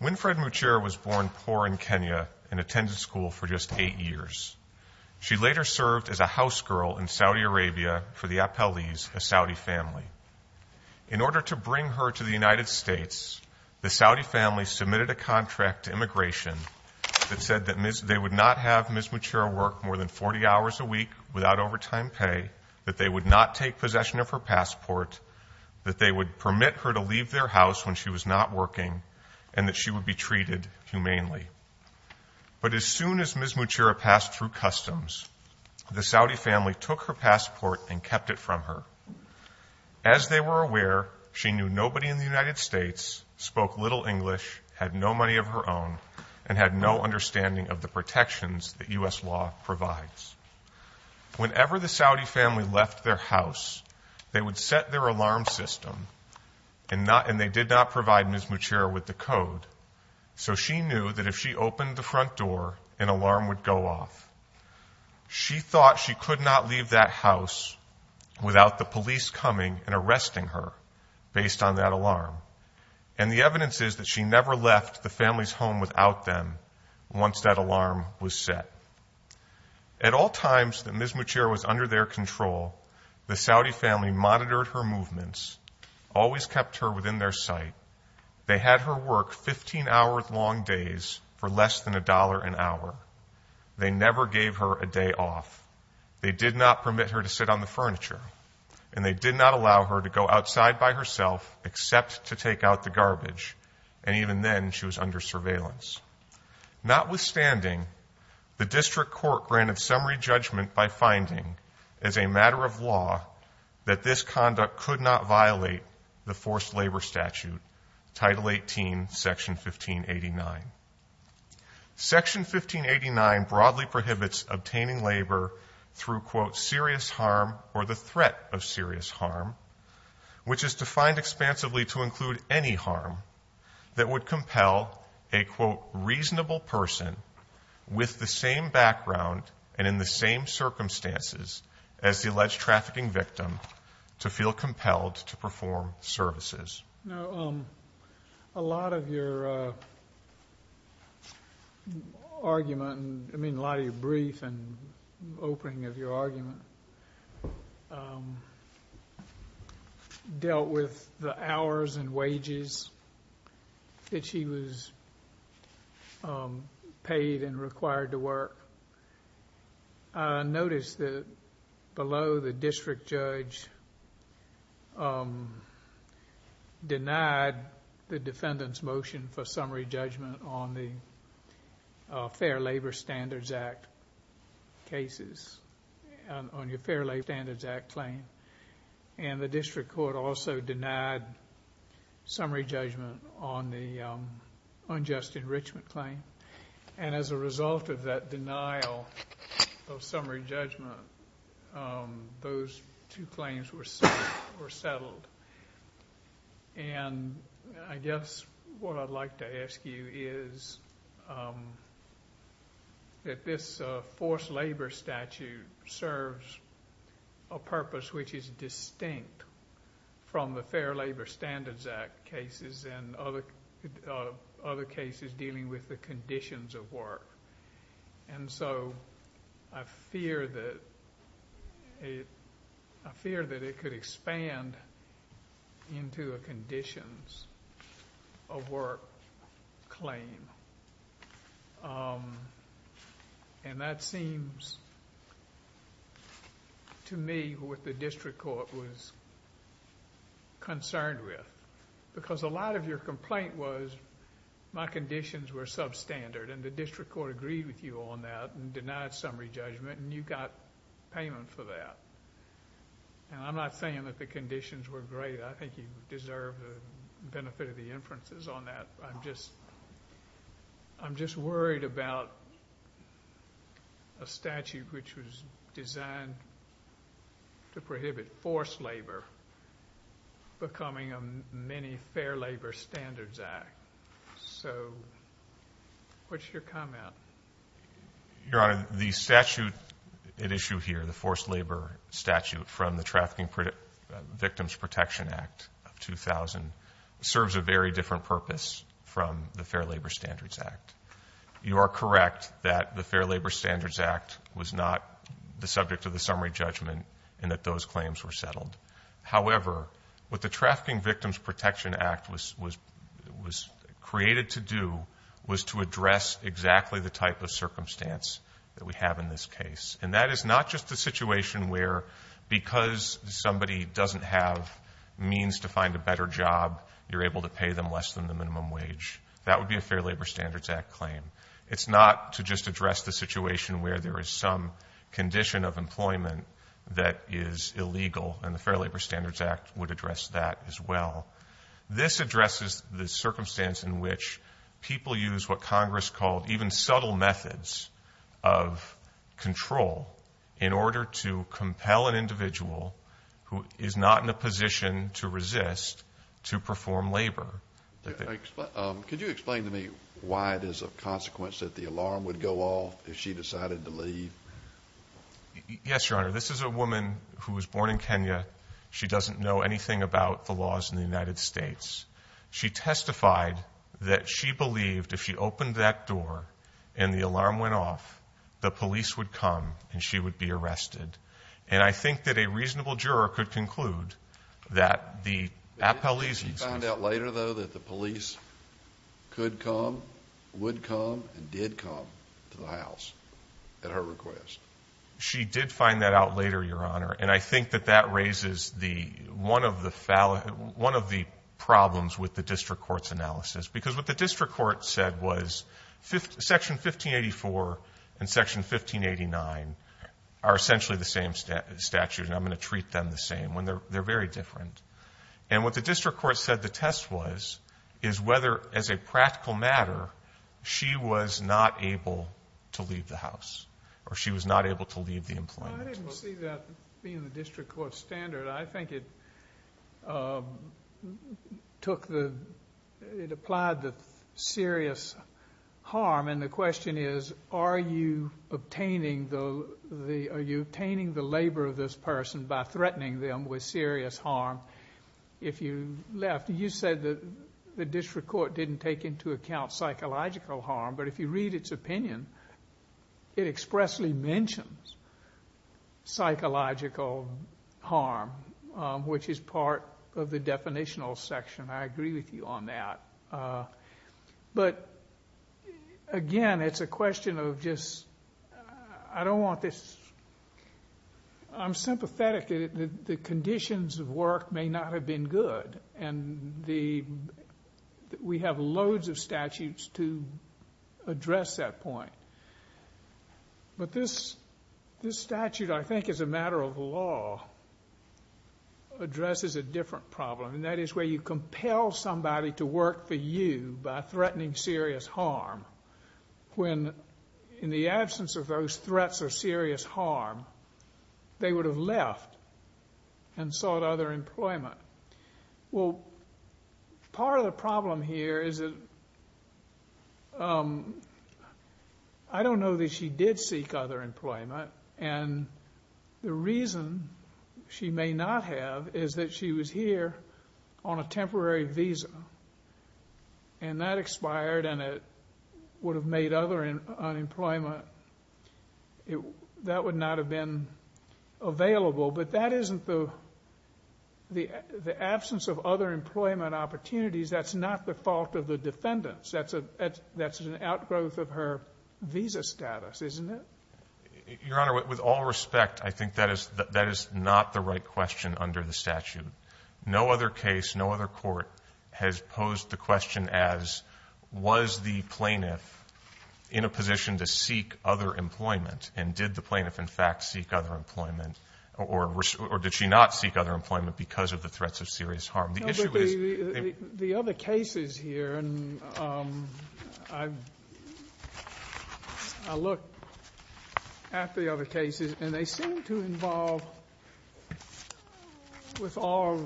Winfred Muchira was born poor in Kenya and attended school for just eight years. She later served as a house girl in Saudi Arabia for the Apalis, a Saudi family. In order to bring her to the United States, the Saudi family submitted a contract to immigration that said that they would not have Ms. Muchira work more than 40 hours a week without overtime pay, that they would not take possession of her passport, that they would permit her to leave their house when she was not working, and that she would be treated humanely. But as soon as Ms. Muchira passed through customs, the Saudi family took her passport and kept it from her. As they were aware, she knew nobody in the United States, spoke little English, had no money of her own, and had no understanding of the protections that U.S. law provides. Whenever the Saudi family left their house, they would set their alarm system, and they did not provide Ms. Muchira with the code. So she knew that if she opened the front door, an alarm would go off. She thought she could not leave that house without the police coming and arresting her based on that alarm. And the evidence is that she never left the house. At all times that Ms. Muchira was under their control, the Saudi family monitored her movements, always kept her within their sight. They had her work 15 hours long days for less than a dollar an hour. They never gave her a day off. They did not permit her to sit on the furniture, and they did not allow her to go outside by herself except to take out the garbage. And even then, she was under surveillance. Notwithstanding, the district court granted summary judgment by finding, as a matter of law, that this conduct could not violate the forced labor statute, Title 18, Section 1589. Section 1589 broadly prohibits obtaining labor through, quote, serious harm or the threat of serious harm, which is defined expansively to in the same circumstances as the alleged trafficking victim to feel compelled to perform services. Now, a lot of your argument, I mean, a lot of your brief and opening of your argument dealt with the hours and wages that she was paid and required to work. I noticed that below the district judge denied the defendant's motion for summary judgment on the Fair Labor Standards Act cases, on your Fair Labor Standards Act claim. And the district court also denied summary judgment on the unjust enrichment claim. And as a result of that denial of summary judgment, those two claims were settled. And I guess what I'd like to ask you is that this forced labor statute serves a purpose which is distinct from the Fair Labor Standards Act cases and other cases dealing with the conditions of work. And so I fear that it could expand into a conditions of work claim. And that seems to me what the district court was concerned with. Because a lot of your complaint was my conditions were substandard and the district court agreed with you on that and denied summary judgment and you got payment for that. And I'm not saying that the conditions were great. I think you deserve the benefit of the inferences on that. I'm just worried about a statute which was designed to prohibit forced labor becoming a mini Fair Labor Standards Act. So what's your comment? Your Honor, the statute at issue here, the forced labor statute from the Trafficking Victims Protection Act of 2000 serves a very different purpose from the Fair Labor Standards Act. You are correct that the Fair Labor Standards Act was not the subject of the summary judgment and that those claims were settled. However, what the Trafficking Victims Protection Act was created to do was to address exactly the type of circumstance that we have in this case. And that is not just a situation where because somebody doesn't have means to find a better job, you're able to pay them less than the minimum wage. That would be a Fair Labor Standards Act claim. It's not to just address the situation where there is some condition of employment that is illegal. And Fair Labor Standards Act would address that as well. This addresses the circumstance in which people use what Congress called even subtle methods of control in order to compel an individual who is not in a position to resist to perform labor. Could you explain to me why it is of consequence that the alarm would go off if she decided to leave? Yes, Your Honor. This is a woman who was born in Kenya. She doesn't know anything about the laws in the United States. She testified that she believed if she opened that door and the alarm went off, the police would come and she would be arrested. And I think that a reasonable juror could conclude that the appellees... She found out later though that the police could come, would come, and did come to the House at her request. She did find that out later, Your Honor. And I think that that raises one of the problems with the District Court's analysis. Because what the District Court said was Section 1584 and Section 1589 are essentially the same statutes, and I'm going to treat them the same. They're very different. And what the District Court said the test was is whether, as a practical matter, she was not able to leave the House, or she was not able to leave the employment. I didn't see that being the District Court's standard. I think it took the... It applied the serious harm. And the question is, are you obtaining the... Are you obtaining the labor of this person by threatening them with the... The District Court didn't take into account psychological harm, but if you read its opinion, it expressly mentions psychological harm, which is part of the definitional section. I agree with you on that. But again, it's a question of just... I don't want this... I'm sympathetic that the the... We have loads of statutes to address that point. But this statute, I think as a matter of law, addresses a different problem. And that is where you compel somebody to work for you by threatening serious harm, when in the absence of those threats or serious harm, they would have left and sought other employment. Well, part of the problem here is that I don't know that she did seek other employment, and the reason she may not have is that she was here on a temporary visa. And that expired, and it would have made other unemployment... That would not have been available. But that isn't the... The absence of other employment opportunities, that's not the fault of the defendants. That's an outgrowth of her visa status, isn't it? Your Honor, with all respect, I think that is not the right question under the statute. No other case, no other court has posed the question as, was the plaintiff in a position to seek other employment? And did the plaintiff in fact seek other employment? Or did she not seek other employment because of the threats of serious harm? The issue is... The other cases here, and I look at the other cases, and they seem to involve, with all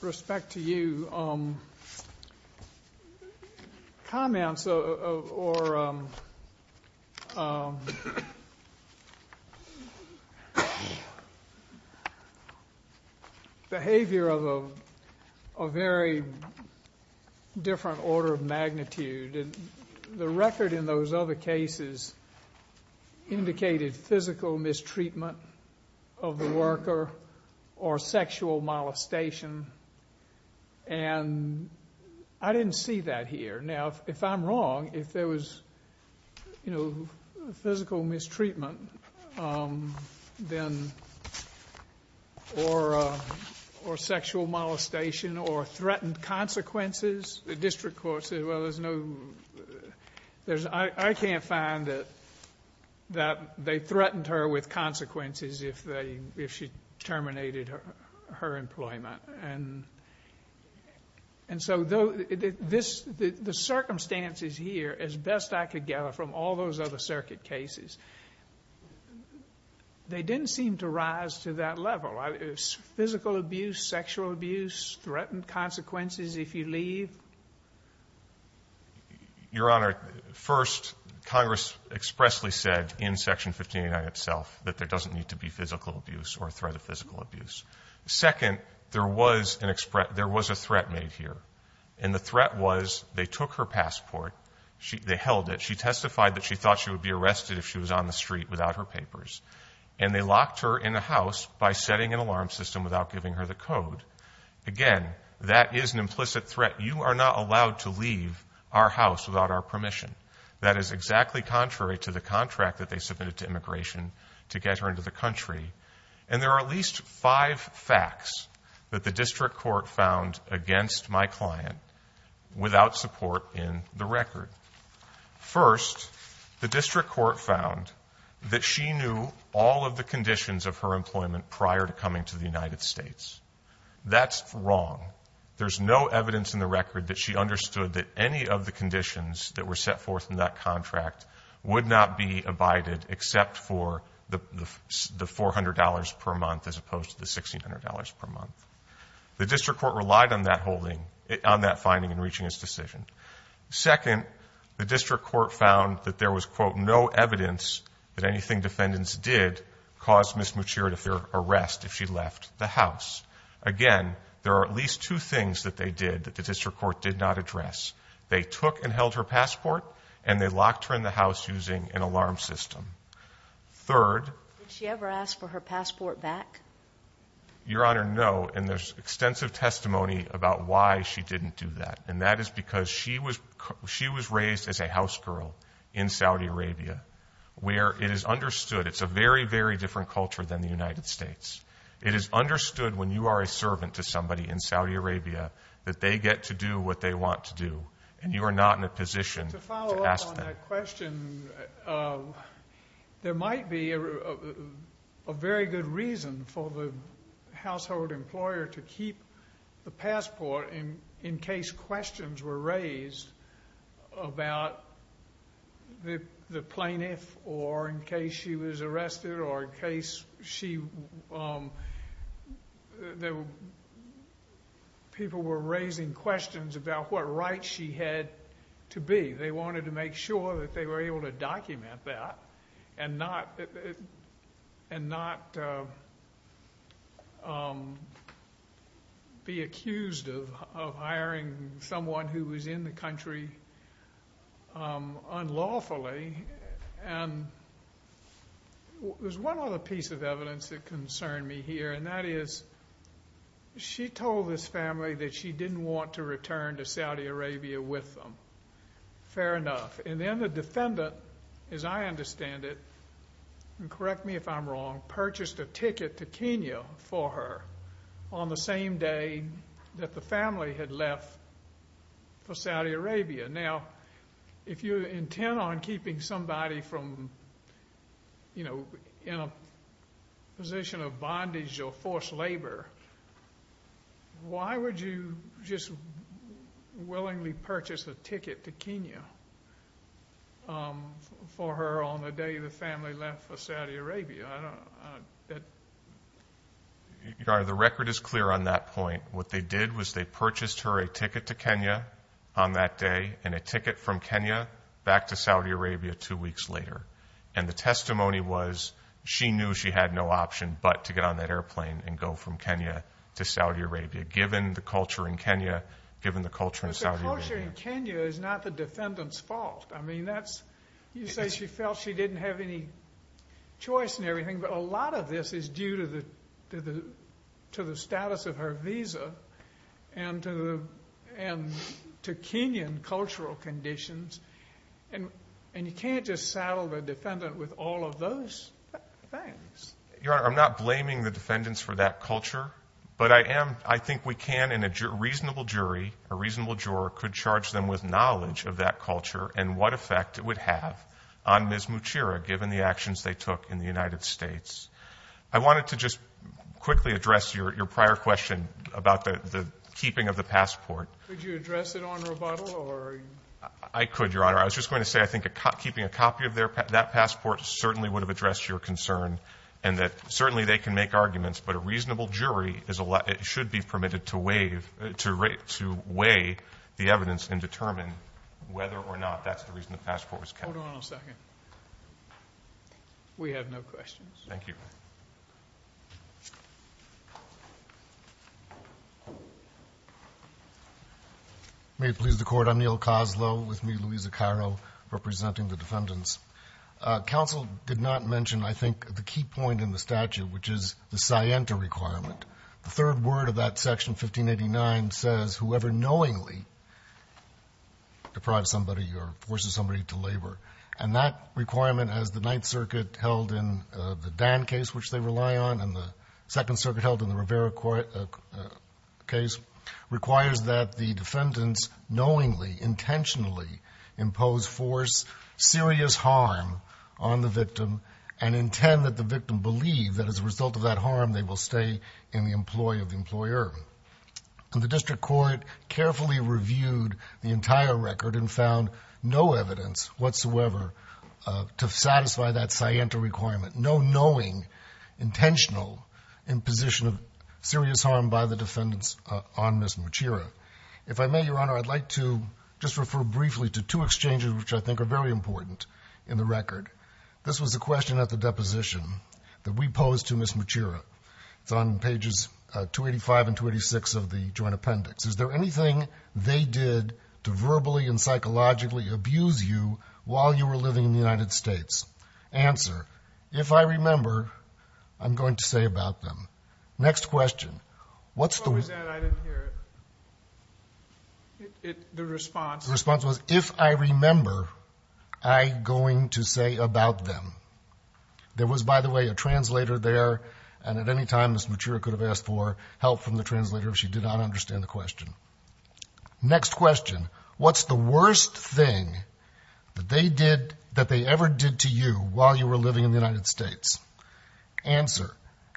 respect to you, comments or behavior of a very different order of magnitude. And the record in those other cases indicated physical mistreatment of the worker or sexual molestation. And I didn't see that here. Now, if I'm wrong, if there was physical mistreatment then... Or sexual molestation or threatened consequences, the district court said, there's no... I can't find that they threatened her with consequences if she terminated her employment. And so the circumstances here, as best I could gather from all those other circuit cases, they didn't seem to rise to that level. Physical abuse, sexual abuse, threatened consequences if you leave? Your Honor, first, Congress expressly said in Section 1589 itself that there doesn't need to be physical abuse or threat of physical abuse. Second, there was a threat made here. And the threat was, they took her passport. They held it. She testified that she thought she would be arrested if she was on the street without her papers. And they locked her in the house by setting an alarm system without giving her the code. Again, that is an implicit threat. You are not allowed to leave our house without our permission. That is exactly contrary to the contract that they submitted to immigration to get her into the country. And there are at least five facts that the district court found against my client without support in the record. First, the district court found that she knew all of the conditions of her employment prior to coming to the United States. That's wrong. There's no evidence in the record that she understood that any of the conditions that were set forth in that contract would not be abided except for the $400 per month as opposed to the $1,600 per month. The district court relied on that finding in reaching its decision. Second, the district court found that there was, quote, no evidence that anything defendants did caused Ms. Muchir to fear arrest if she left the house. Again, there are at least two things that they did that the district court did not address. They took and held her passport, and they locked her in the house using an alarm system. Third... Did she ever ask for her passport back? Your Honor, no. And there's extensive testimony about why she didn't do that, and that is because she was raised as a house girl in Saudi Arabia, where it is understood... It's a very, very different culture than the United States. It is understood when you are a servant to somebody in Saudi Arabia that they get to do what they want to do, and you are not in a position to ask them. On that question, there might be a very good reason for the household employer to keep the passport in case questions were raised about the plaintiff or in case she was arrested or in a case where she was arrested, and not be accused of hiring someone who was in the country unlawfully. There's one other piece of evidence that concerned me here, and that is she told this family that she didn't want to return to Saudi Arabia with them. Fair enough. And then the defendant, as I understand it, and correct me if I'm wrong, purchased a ticket to Kenya for her on the same day that the family had left for Saudi Arabia. Now, if you intend on keeping somebody from, you know, in a position of bondage or forced labor, why would you just willingly purchase a ticket to Kenya for her on the day the family left for Saudi Arabia? Your Honor, the record is clear on that point. What they did was they purchased her a ticket to Kenya on that day and a ticket from Kenya back to Saudi Arabia two weeks later. And the to Saudi Arabia, given the culture in Kenya, given the culture in Saudi Arabia. But the culture in Kenya is not the defendant's fault. I mean, you say she felt she didn't have any choice and everything, but a lot of this is due to the status of her visa and to Kenyan cultural conditions. And you can't just saddle the defendant with all of those things. Your Honor, I'm not blaming the defendants for that culture. But I am, I think we can in a reasonable jury, a reasonable juror could charge them with knowledge of that culture and what effect it would have on Ms. Muchira given the actions they took in the United States. I wanted to just quickly address your prior question about the keeping of the passport. Could you address it on rebuttal or? I could, Your Honor. I was just going to say, I think keeping a copy of that passport certainly would have addressed your concern and that certainly they can make arguments, but a reasonable jury should be permitted to weigh the evidence and determine whether or not that's the reason the passport was kept. Hold on a second. We have no questions. Thank you. May it please the Court, I'm Neil Koslow with me, Louisa Cairo, representing the defendants. Counsel did not mention, I think, the key point in the statute, which is the scienta requirement. The third word of that section, 1589, says, whoever knowingly deprives somebody or forces somebody to labor. And that requirement, as the Ninth Circuit held in the Dan case, which they rely on, and the Second Circuit held in the Rivera case, requires that the defendants knowingly, intentionally impose force, serious harm on the victim, and intend that the victim believe that as a result of that harm, they will stay in the employ of the employer. And the District Court carefully reviewed the entire record and found no evidence whatsoever to satisfy that scienta requirement. No knowing intentional imposition of serious harm by the I'd like to just refer briefly to two exchanges, which I think are very important in the record. This was a question at the deposition that we posed to Ms. Machira. It's on pages 285 and 286 of the Joint Appendix. Is there anything they did to verbally and psychologically abuse you while you were living in the United States? Answer. If I remember, I'm going to say about them. Next question. What was that? I didn't hear it. The response. The response was, if I remember, I'm going to say about them. There was, by the way, a translator there. And at any time Ms. Machira could have asked for help from the translator if she did not understand the question. Next question. What's the worst thing that they did, that they ever did to you while you were living in the United States? Answer.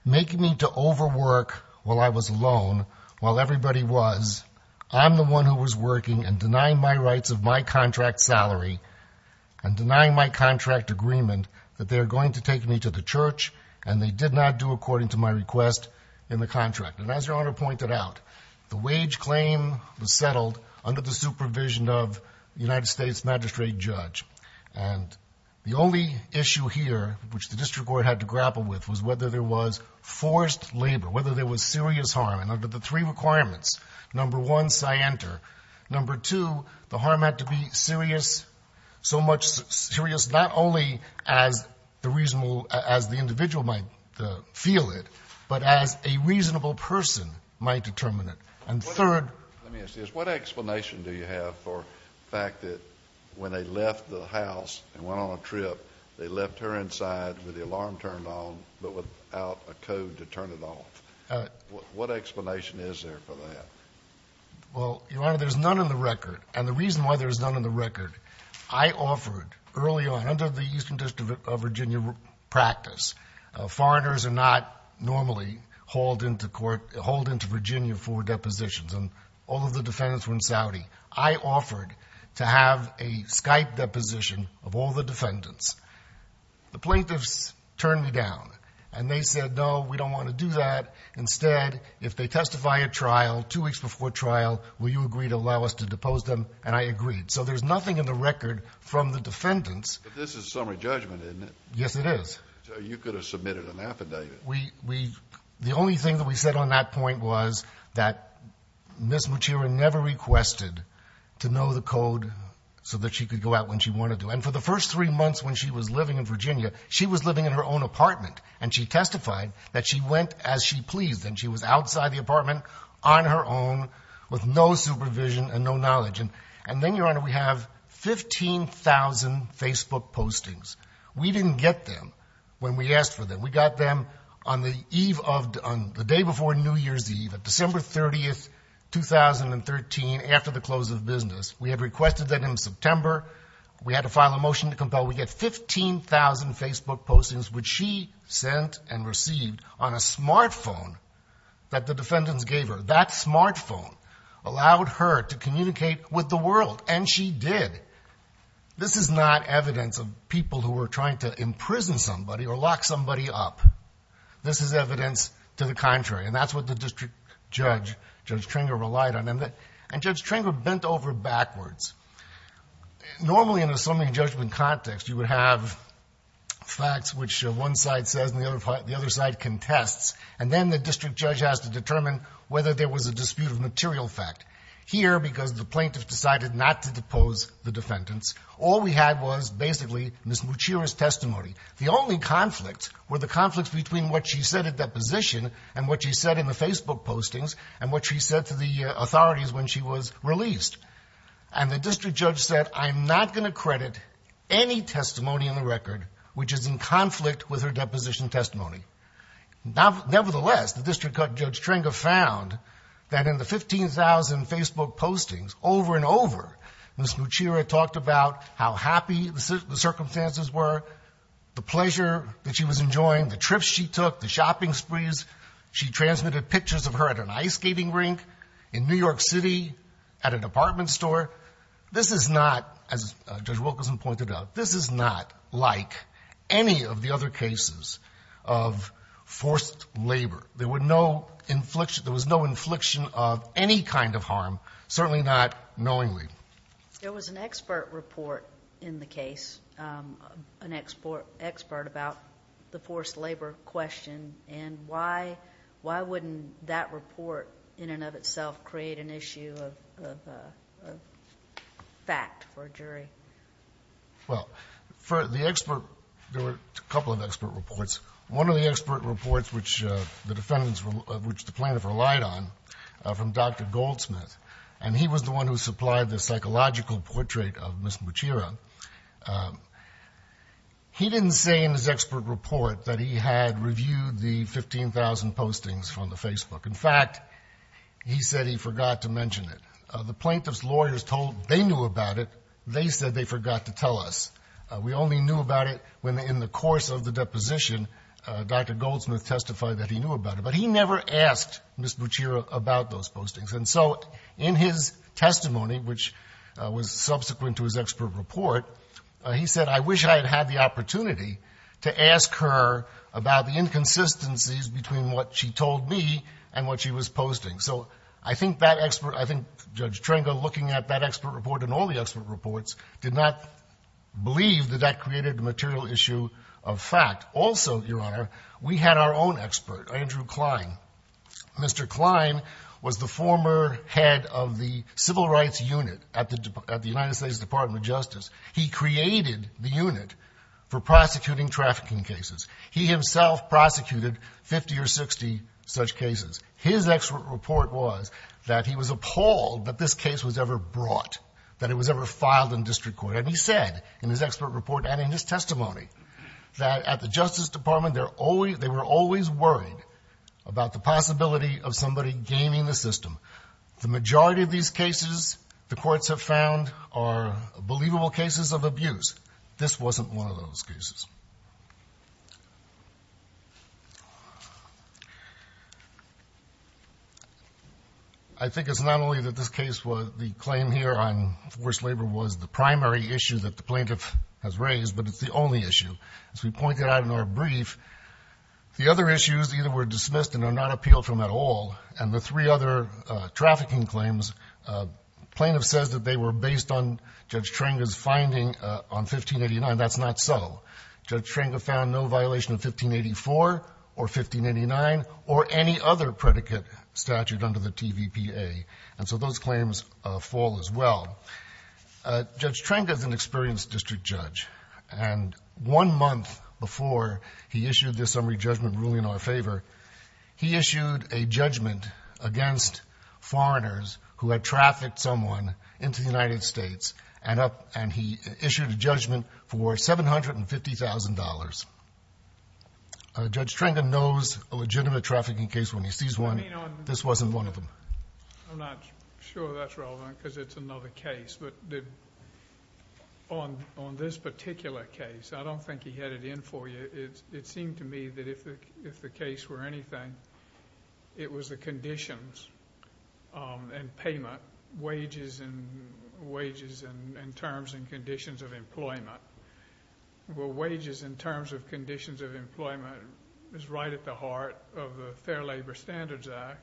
Making me to overwork while I was alone, while everybody was. I'm the one who was working and denying my rights of my contract salary and denying my contract agreement that they're going to take me to the church. And they did not do according to my request in the contract. And as your honor pointed out, the wage claim was settled under the supervision of the United States. The only issue here, which the district court had to grapple with, was whether there was forced labor, whether there was serious harm. And under the three requirements, number one, number two, the harm had to be serious, so much serious, not only as the reasonable, as the individual might feel it, but as a reasonable person might determine it. And third. Let me ask you this. What explanation do you have for the fact that when they left the house and went on a trip, they left her inside with the alarm turned on, but without a code to turn it off? What explanation is there for that? Well, your honor, there's none in the record. And the reason why there's none in the record, I offered early on under the Eastern District of Virginia practice, foreigners are not normally hauled into court, hauled into Virginia for depositions. And all of the defendants were in Saudi. I offered to have a Skype deposition of all the defendants. The plaintiffs turned me down and they said, no, we don't want to do that. Instead, if they testify at trial two weeks before trial, will you agree to allow us to depose them? And I agreed. So there's nothing in the record from the defendants. But this is summary judgment, isn't it? Yes, it is. You could have submitted an affidavit. We, we, the only thing that we said on that point was that Ms. Muchira never requested to know the code so that she could go out when she wanted to. And for the first three months when she was living in Virginia, she was living in her own apartment and she testified that she went as she pleased. And she was outside the apartment on her own with no supervision and no knowledge. And, and then your honor, we have 15,000 Facebook postings. We didn't get them when we asked for them. We got them on the eve of, on the day before New Year's, December 30th, 2013. After the close of business, we had requested that in September, we had to file a motion to compel. We get 15,000 Facebook postings, which she sent and received on a smartphone that the defendants gave her. That smartphone allowed her to communicate with the world. And she did. This is not evidence of people who were trying to imprison somebody or lock somebody up. This is evidence to the contrary. And that's what the district judge, Judge Tringer, relied on. And Judge Tringer bent over backwards. Normally in a summary judgment context, you would have facts which one side says and the other side contests. And then the district judge has to determine whether there was a dispute of material fact. Here, because the plaintiffs decided not to depose the defendants, all we had was basically Ms. Muchira's testimony. The only conflicts were the conflicts between what she said at deposition and what she said in the Facebook postings and what she said to the authorities when she was released. And the district judge said, I'm not going to credit any testimony in the record which is in conflict with her deposition testimony. Nevertheless, the district judge, Judge Tringer, found that in the 15,000 Facebook postings, over and over, Ms. Muchira talked about how happy the circumstances were, the pleasure that she was enjoying, the trips she took, the shopping sprees. She transmitted pictures of her at an ice skating rink in New York City at an apartment store. This is not, as Judge Wilkerson pointed out, this is not like any of the other cases of forced labor. There was no infliction of any kind of harm, certainly not knowingly. There was an expert report in the case, an expert about the forced labor question, and why wouldn't that report in and of itself create an issue of fact for a jury? Well, for the expert, there were a couple of expert reports. One of the expert reports, which the defendants, which the plaintiff relied on, from Dr. Goldsmith, and he was the one who portrayed Ms. Muchira, he didn't say in his expert report that he had reviewed the 15,000 postings from the Facebook. In fact, he said he forgot to mention it. The plaintiff's lawyers told they knew about it. They said they forgot to tell us. We only knew about it when, in the course of the deposition, Dr. Goldsmith testified that he knew about it. But he never asked Ms. Muchira about those postings. And so in his testimony, which was subsequent to his expert report, he said, I wish I had had the opportunity to ask her about the inconsistencies between what she told me and what she was posting. So I think that expert, I think Judge Trenga looking at that expert report and all the expert reports did not believe that that created a material issue of fact. Also, Your Honor, we had our own expert, Andrew Klein. Mr. Klein was the former head of the Civil Rights Unit at the United States Department of Justice. He created the unit for prosecuting trafficking cases. He himself prosecuted 50 or 60 such cases. His expert report was that he was appalled that this case was ever brought, that it was ever filed in district court. And he said in his expert report and in his testimony that at the Justice Department, they were always worried about the possibility of somebody gaining the system. The majority of these cases the courts have found are believable cases of abuse. This wasn't one of those cases. I think it's not only that this case was the claim here on forced labor was the primary issue that the plaintiff has raised, but it's the only issue. As we pointed out in our brief, the other issues either were dismissed and are not appealed from at all. And the three other trafficking claims, plaintiff says that they were based on Judge Trenga's finding on 1589. That's not so. Judge Trenga found no violation of 1584 or 1589 or any other predicate statute under the TVPA. And so those claims fall as well. Judge Trenga is an experienced district judge. And one month before he issued this summary judgment ruling in our favor, he issued a judgment against foreigners who had trafficked someone into the United States and he issued a judgment for $750,000. Judge Trenga knows a legitimate trafficking case when this wasn't one of them. I'm not sure that's relevant because it's another case. But on this particular case, I don't think he had it in for you. It seemed to me that if the case were anything, it was the conditions and payment, wages and terms and conditions of employment. Well, wages in terms of conditions of employment is right at the heart of the Fair Labor Standards Act.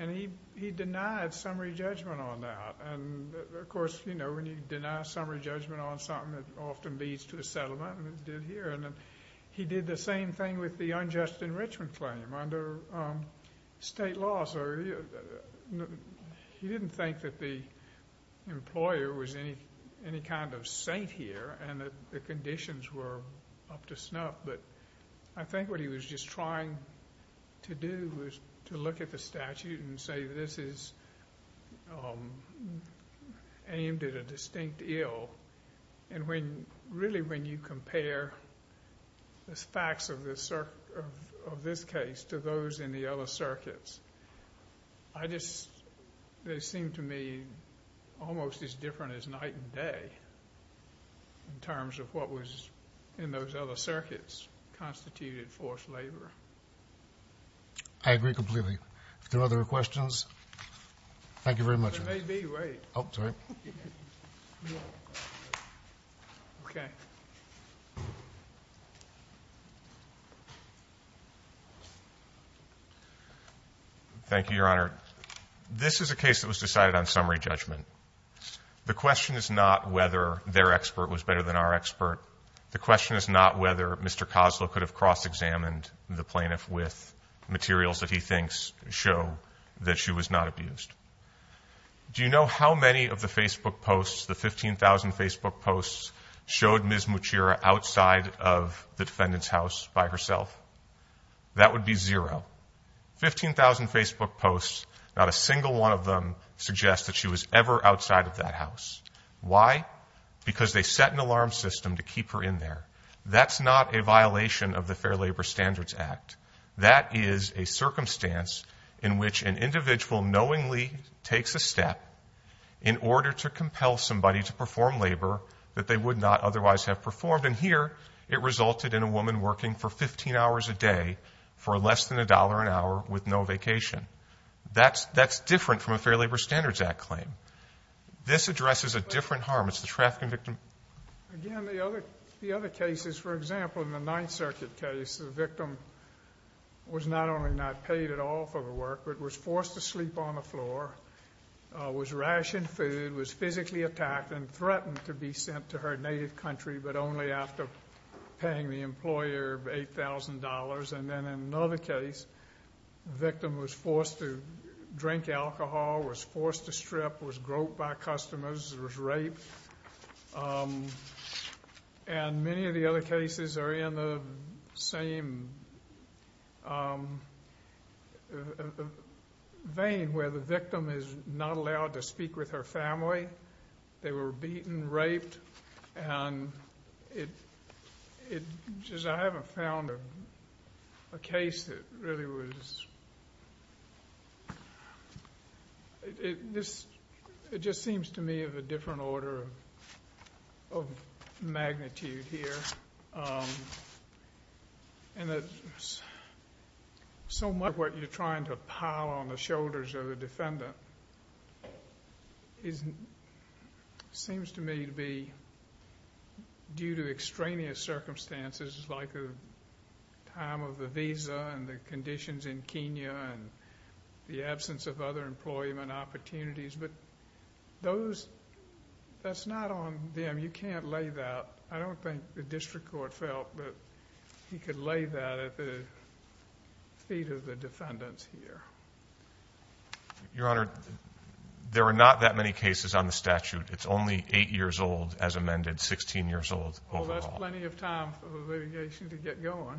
And he denied summary judgment on that. And of course, you know, when you deny summary judgment on something that often leads to a settlement, and it did here. And he did the same thing with the unjust enrichment claim under state law. So he didn't think that the employer was any kind of saint here and that the conditions were up to snuff. But I think what he was just trying to do was to look at the statute and say this is aimed at a distinct ill. And when, really, when you compare the facts of this case to those in the other circuits, I just, they seem to me almost as different as night and day in terms of what was in those other circuits constituted forced labor. I agree completely. Are there other questions? Thank you very much. There may be, wait. Oh, sorry. Okay. Thank you, Your Honor. This is a case that was decided on summary judgment. The question is not whether their expert was better than our expert. The question is not whether Mr. Koslow could have cross-examined the plaintiff with materials that he thinks show that she was not abused. Do you know how many of the Facebook posts, the 15,000 Facebook posts, showed Mr. Koslow was not abused? Outside of the defendant's house by herself? That would be zero. 15,000 Facebook posts, not a single one of them suggest that she was ever outside of that house. Why? Because they set an alarm system to keep her in there. That's not a violation of the Fair Labor Standards Act. That is a circumstance in which an individual knowingly takes a step in order to compel somebody to perform labor that they would not otherwise have performed. And here, it resulted in a woman working for 15 hours a day for less than a dollar an hour with no vacation. That's different from a Fair Labor Standards Act claim. This addresses a different harm. Again, the other cases, for example, in the Ninth Circuit case, the victim was not only not paid at all for the work, but was forced to sleep on the floor, was rationed food, was physically attacked, and threatened to be sent to her native country, but only after paying the employer $8,000. And then in another case, the victim was forced to drink alcohol, was forced to strip, was groped by customers, was raped. And many of the other cases are in the same vein where the victim is not allowed to speak with her family. They were beaten, raped, and raped. I haven't found a case that really was... It just seems to me of a different order of magnitude here. So much of what you're trying to pile on the shoulders of the defendant is... seems to me to be due to extraneous circumstances like the time of the visa and the conditions in Kenya and the absence of other employment opportunities. But that's not on them. You can't lay that... I don't think the district court felt that he could lay that at the feet of the defendants here. Your Honor, there are not that many cases on the statute. It's only 8 years old as amended, 16 years old overall. Well, that's plenty of time for the litigation to get going.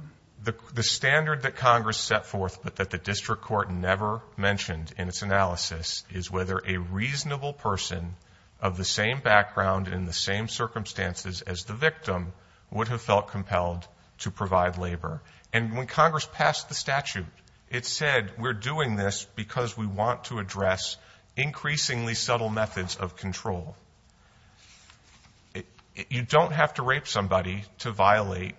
The standard that Congress set forth, but that the district court never mentioned in its analysis, is whether a reasonable person of the same background in the same circumstances as the victim would have felt compelled to provide labor. And when Congress passed the statute, it said, we're doing this because we want to address increasingly subtle methods of control. You don't have to rape somebody to violate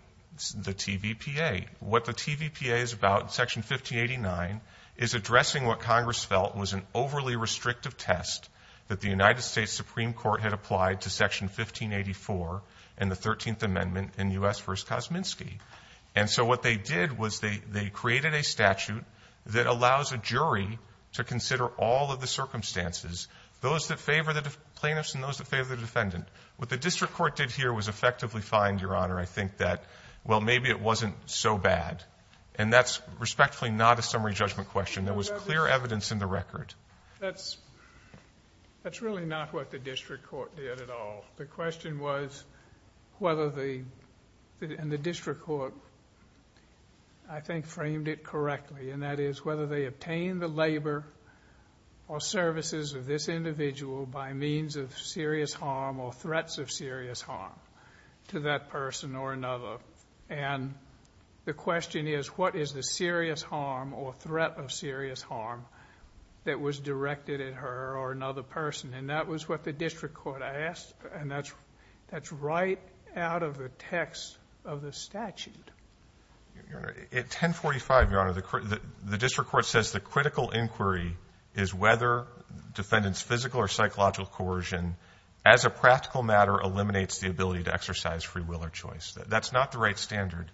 the TVPA. What the TVPA is about, Section 1589, is addressing what Congress felt was an overly restrictive test that the United States Supreme Court had applied to Section 1584 and the 13th Amendment in U.S. v. Kosminsky. And so what they did was they created a statute that allows a jury to consider all of the circumstances, those that favor the plaintiffs and those that favor the defendant. What the district court did here was effectively find, Your Honor, I think that, well, maybe it wasn't so bad. And that's respectfully not a summary judgment question. There was clear evidence in the record. That's really not what the district court did at all. The question was, whether the district court, I think, framed it correctly. And that is whether they obtained the labor or services of this individual by means of serious harm or threats of serious harm to that person or another. And the question is, what is the serious harm or threat of serious harm that was directed at her or another person? And that was what the district court asked. And that's right out of the text of the statute. Fisherman, at 1045, Your Honor, the district court says the critical inquiry is whether defendant's physical or psychological coercion as a practical matter eliminates the ability to exercise free will or choice. That's not the right standard.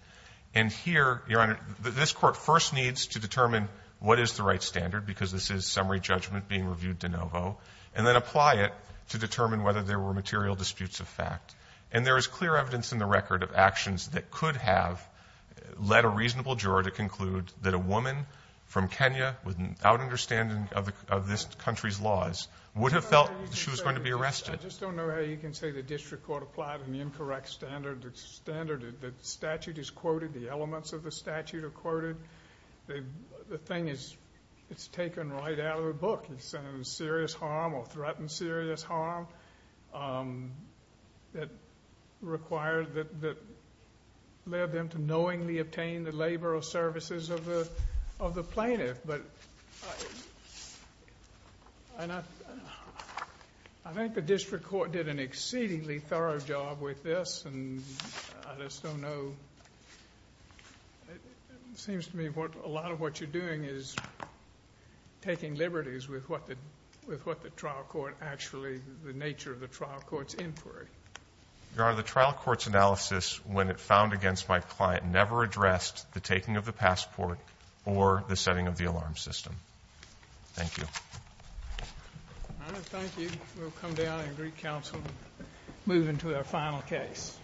And here, Your Honor, this Court first needs to determine what is the right standard, because this is summary judgment being reviewed de novo, and then apply it to determine whether there were material disputes of fact. And there is clear evidence in the record of actions that could have led a reasonable juror to conclude that a woman from Kenya, without understanding of this country's laws, would have felt she was going to be arrested. I just don't know how you can say the district court applied an incorrect standard. The statute is quoted. The elements of the statute are quoted. The thing is, it's taken right out of the book. Serious harm or threatened serious harm that required, that led them to knowingly obtain the labor or services of the plaintiff. But I think the district court did an exceedingly thorough job with this, and I just don't know. It seems to me a lot of what you're doing is taking liberties with what the trial court actually, the nature of the trial court's inquiry. Your Honor, the trial court's analysis, when it found against my client, never addressed the taking of the passport or the setting of the alarm system. Thank you. Your Honor, thank you. We'll come down in Greek Council and move into our final case.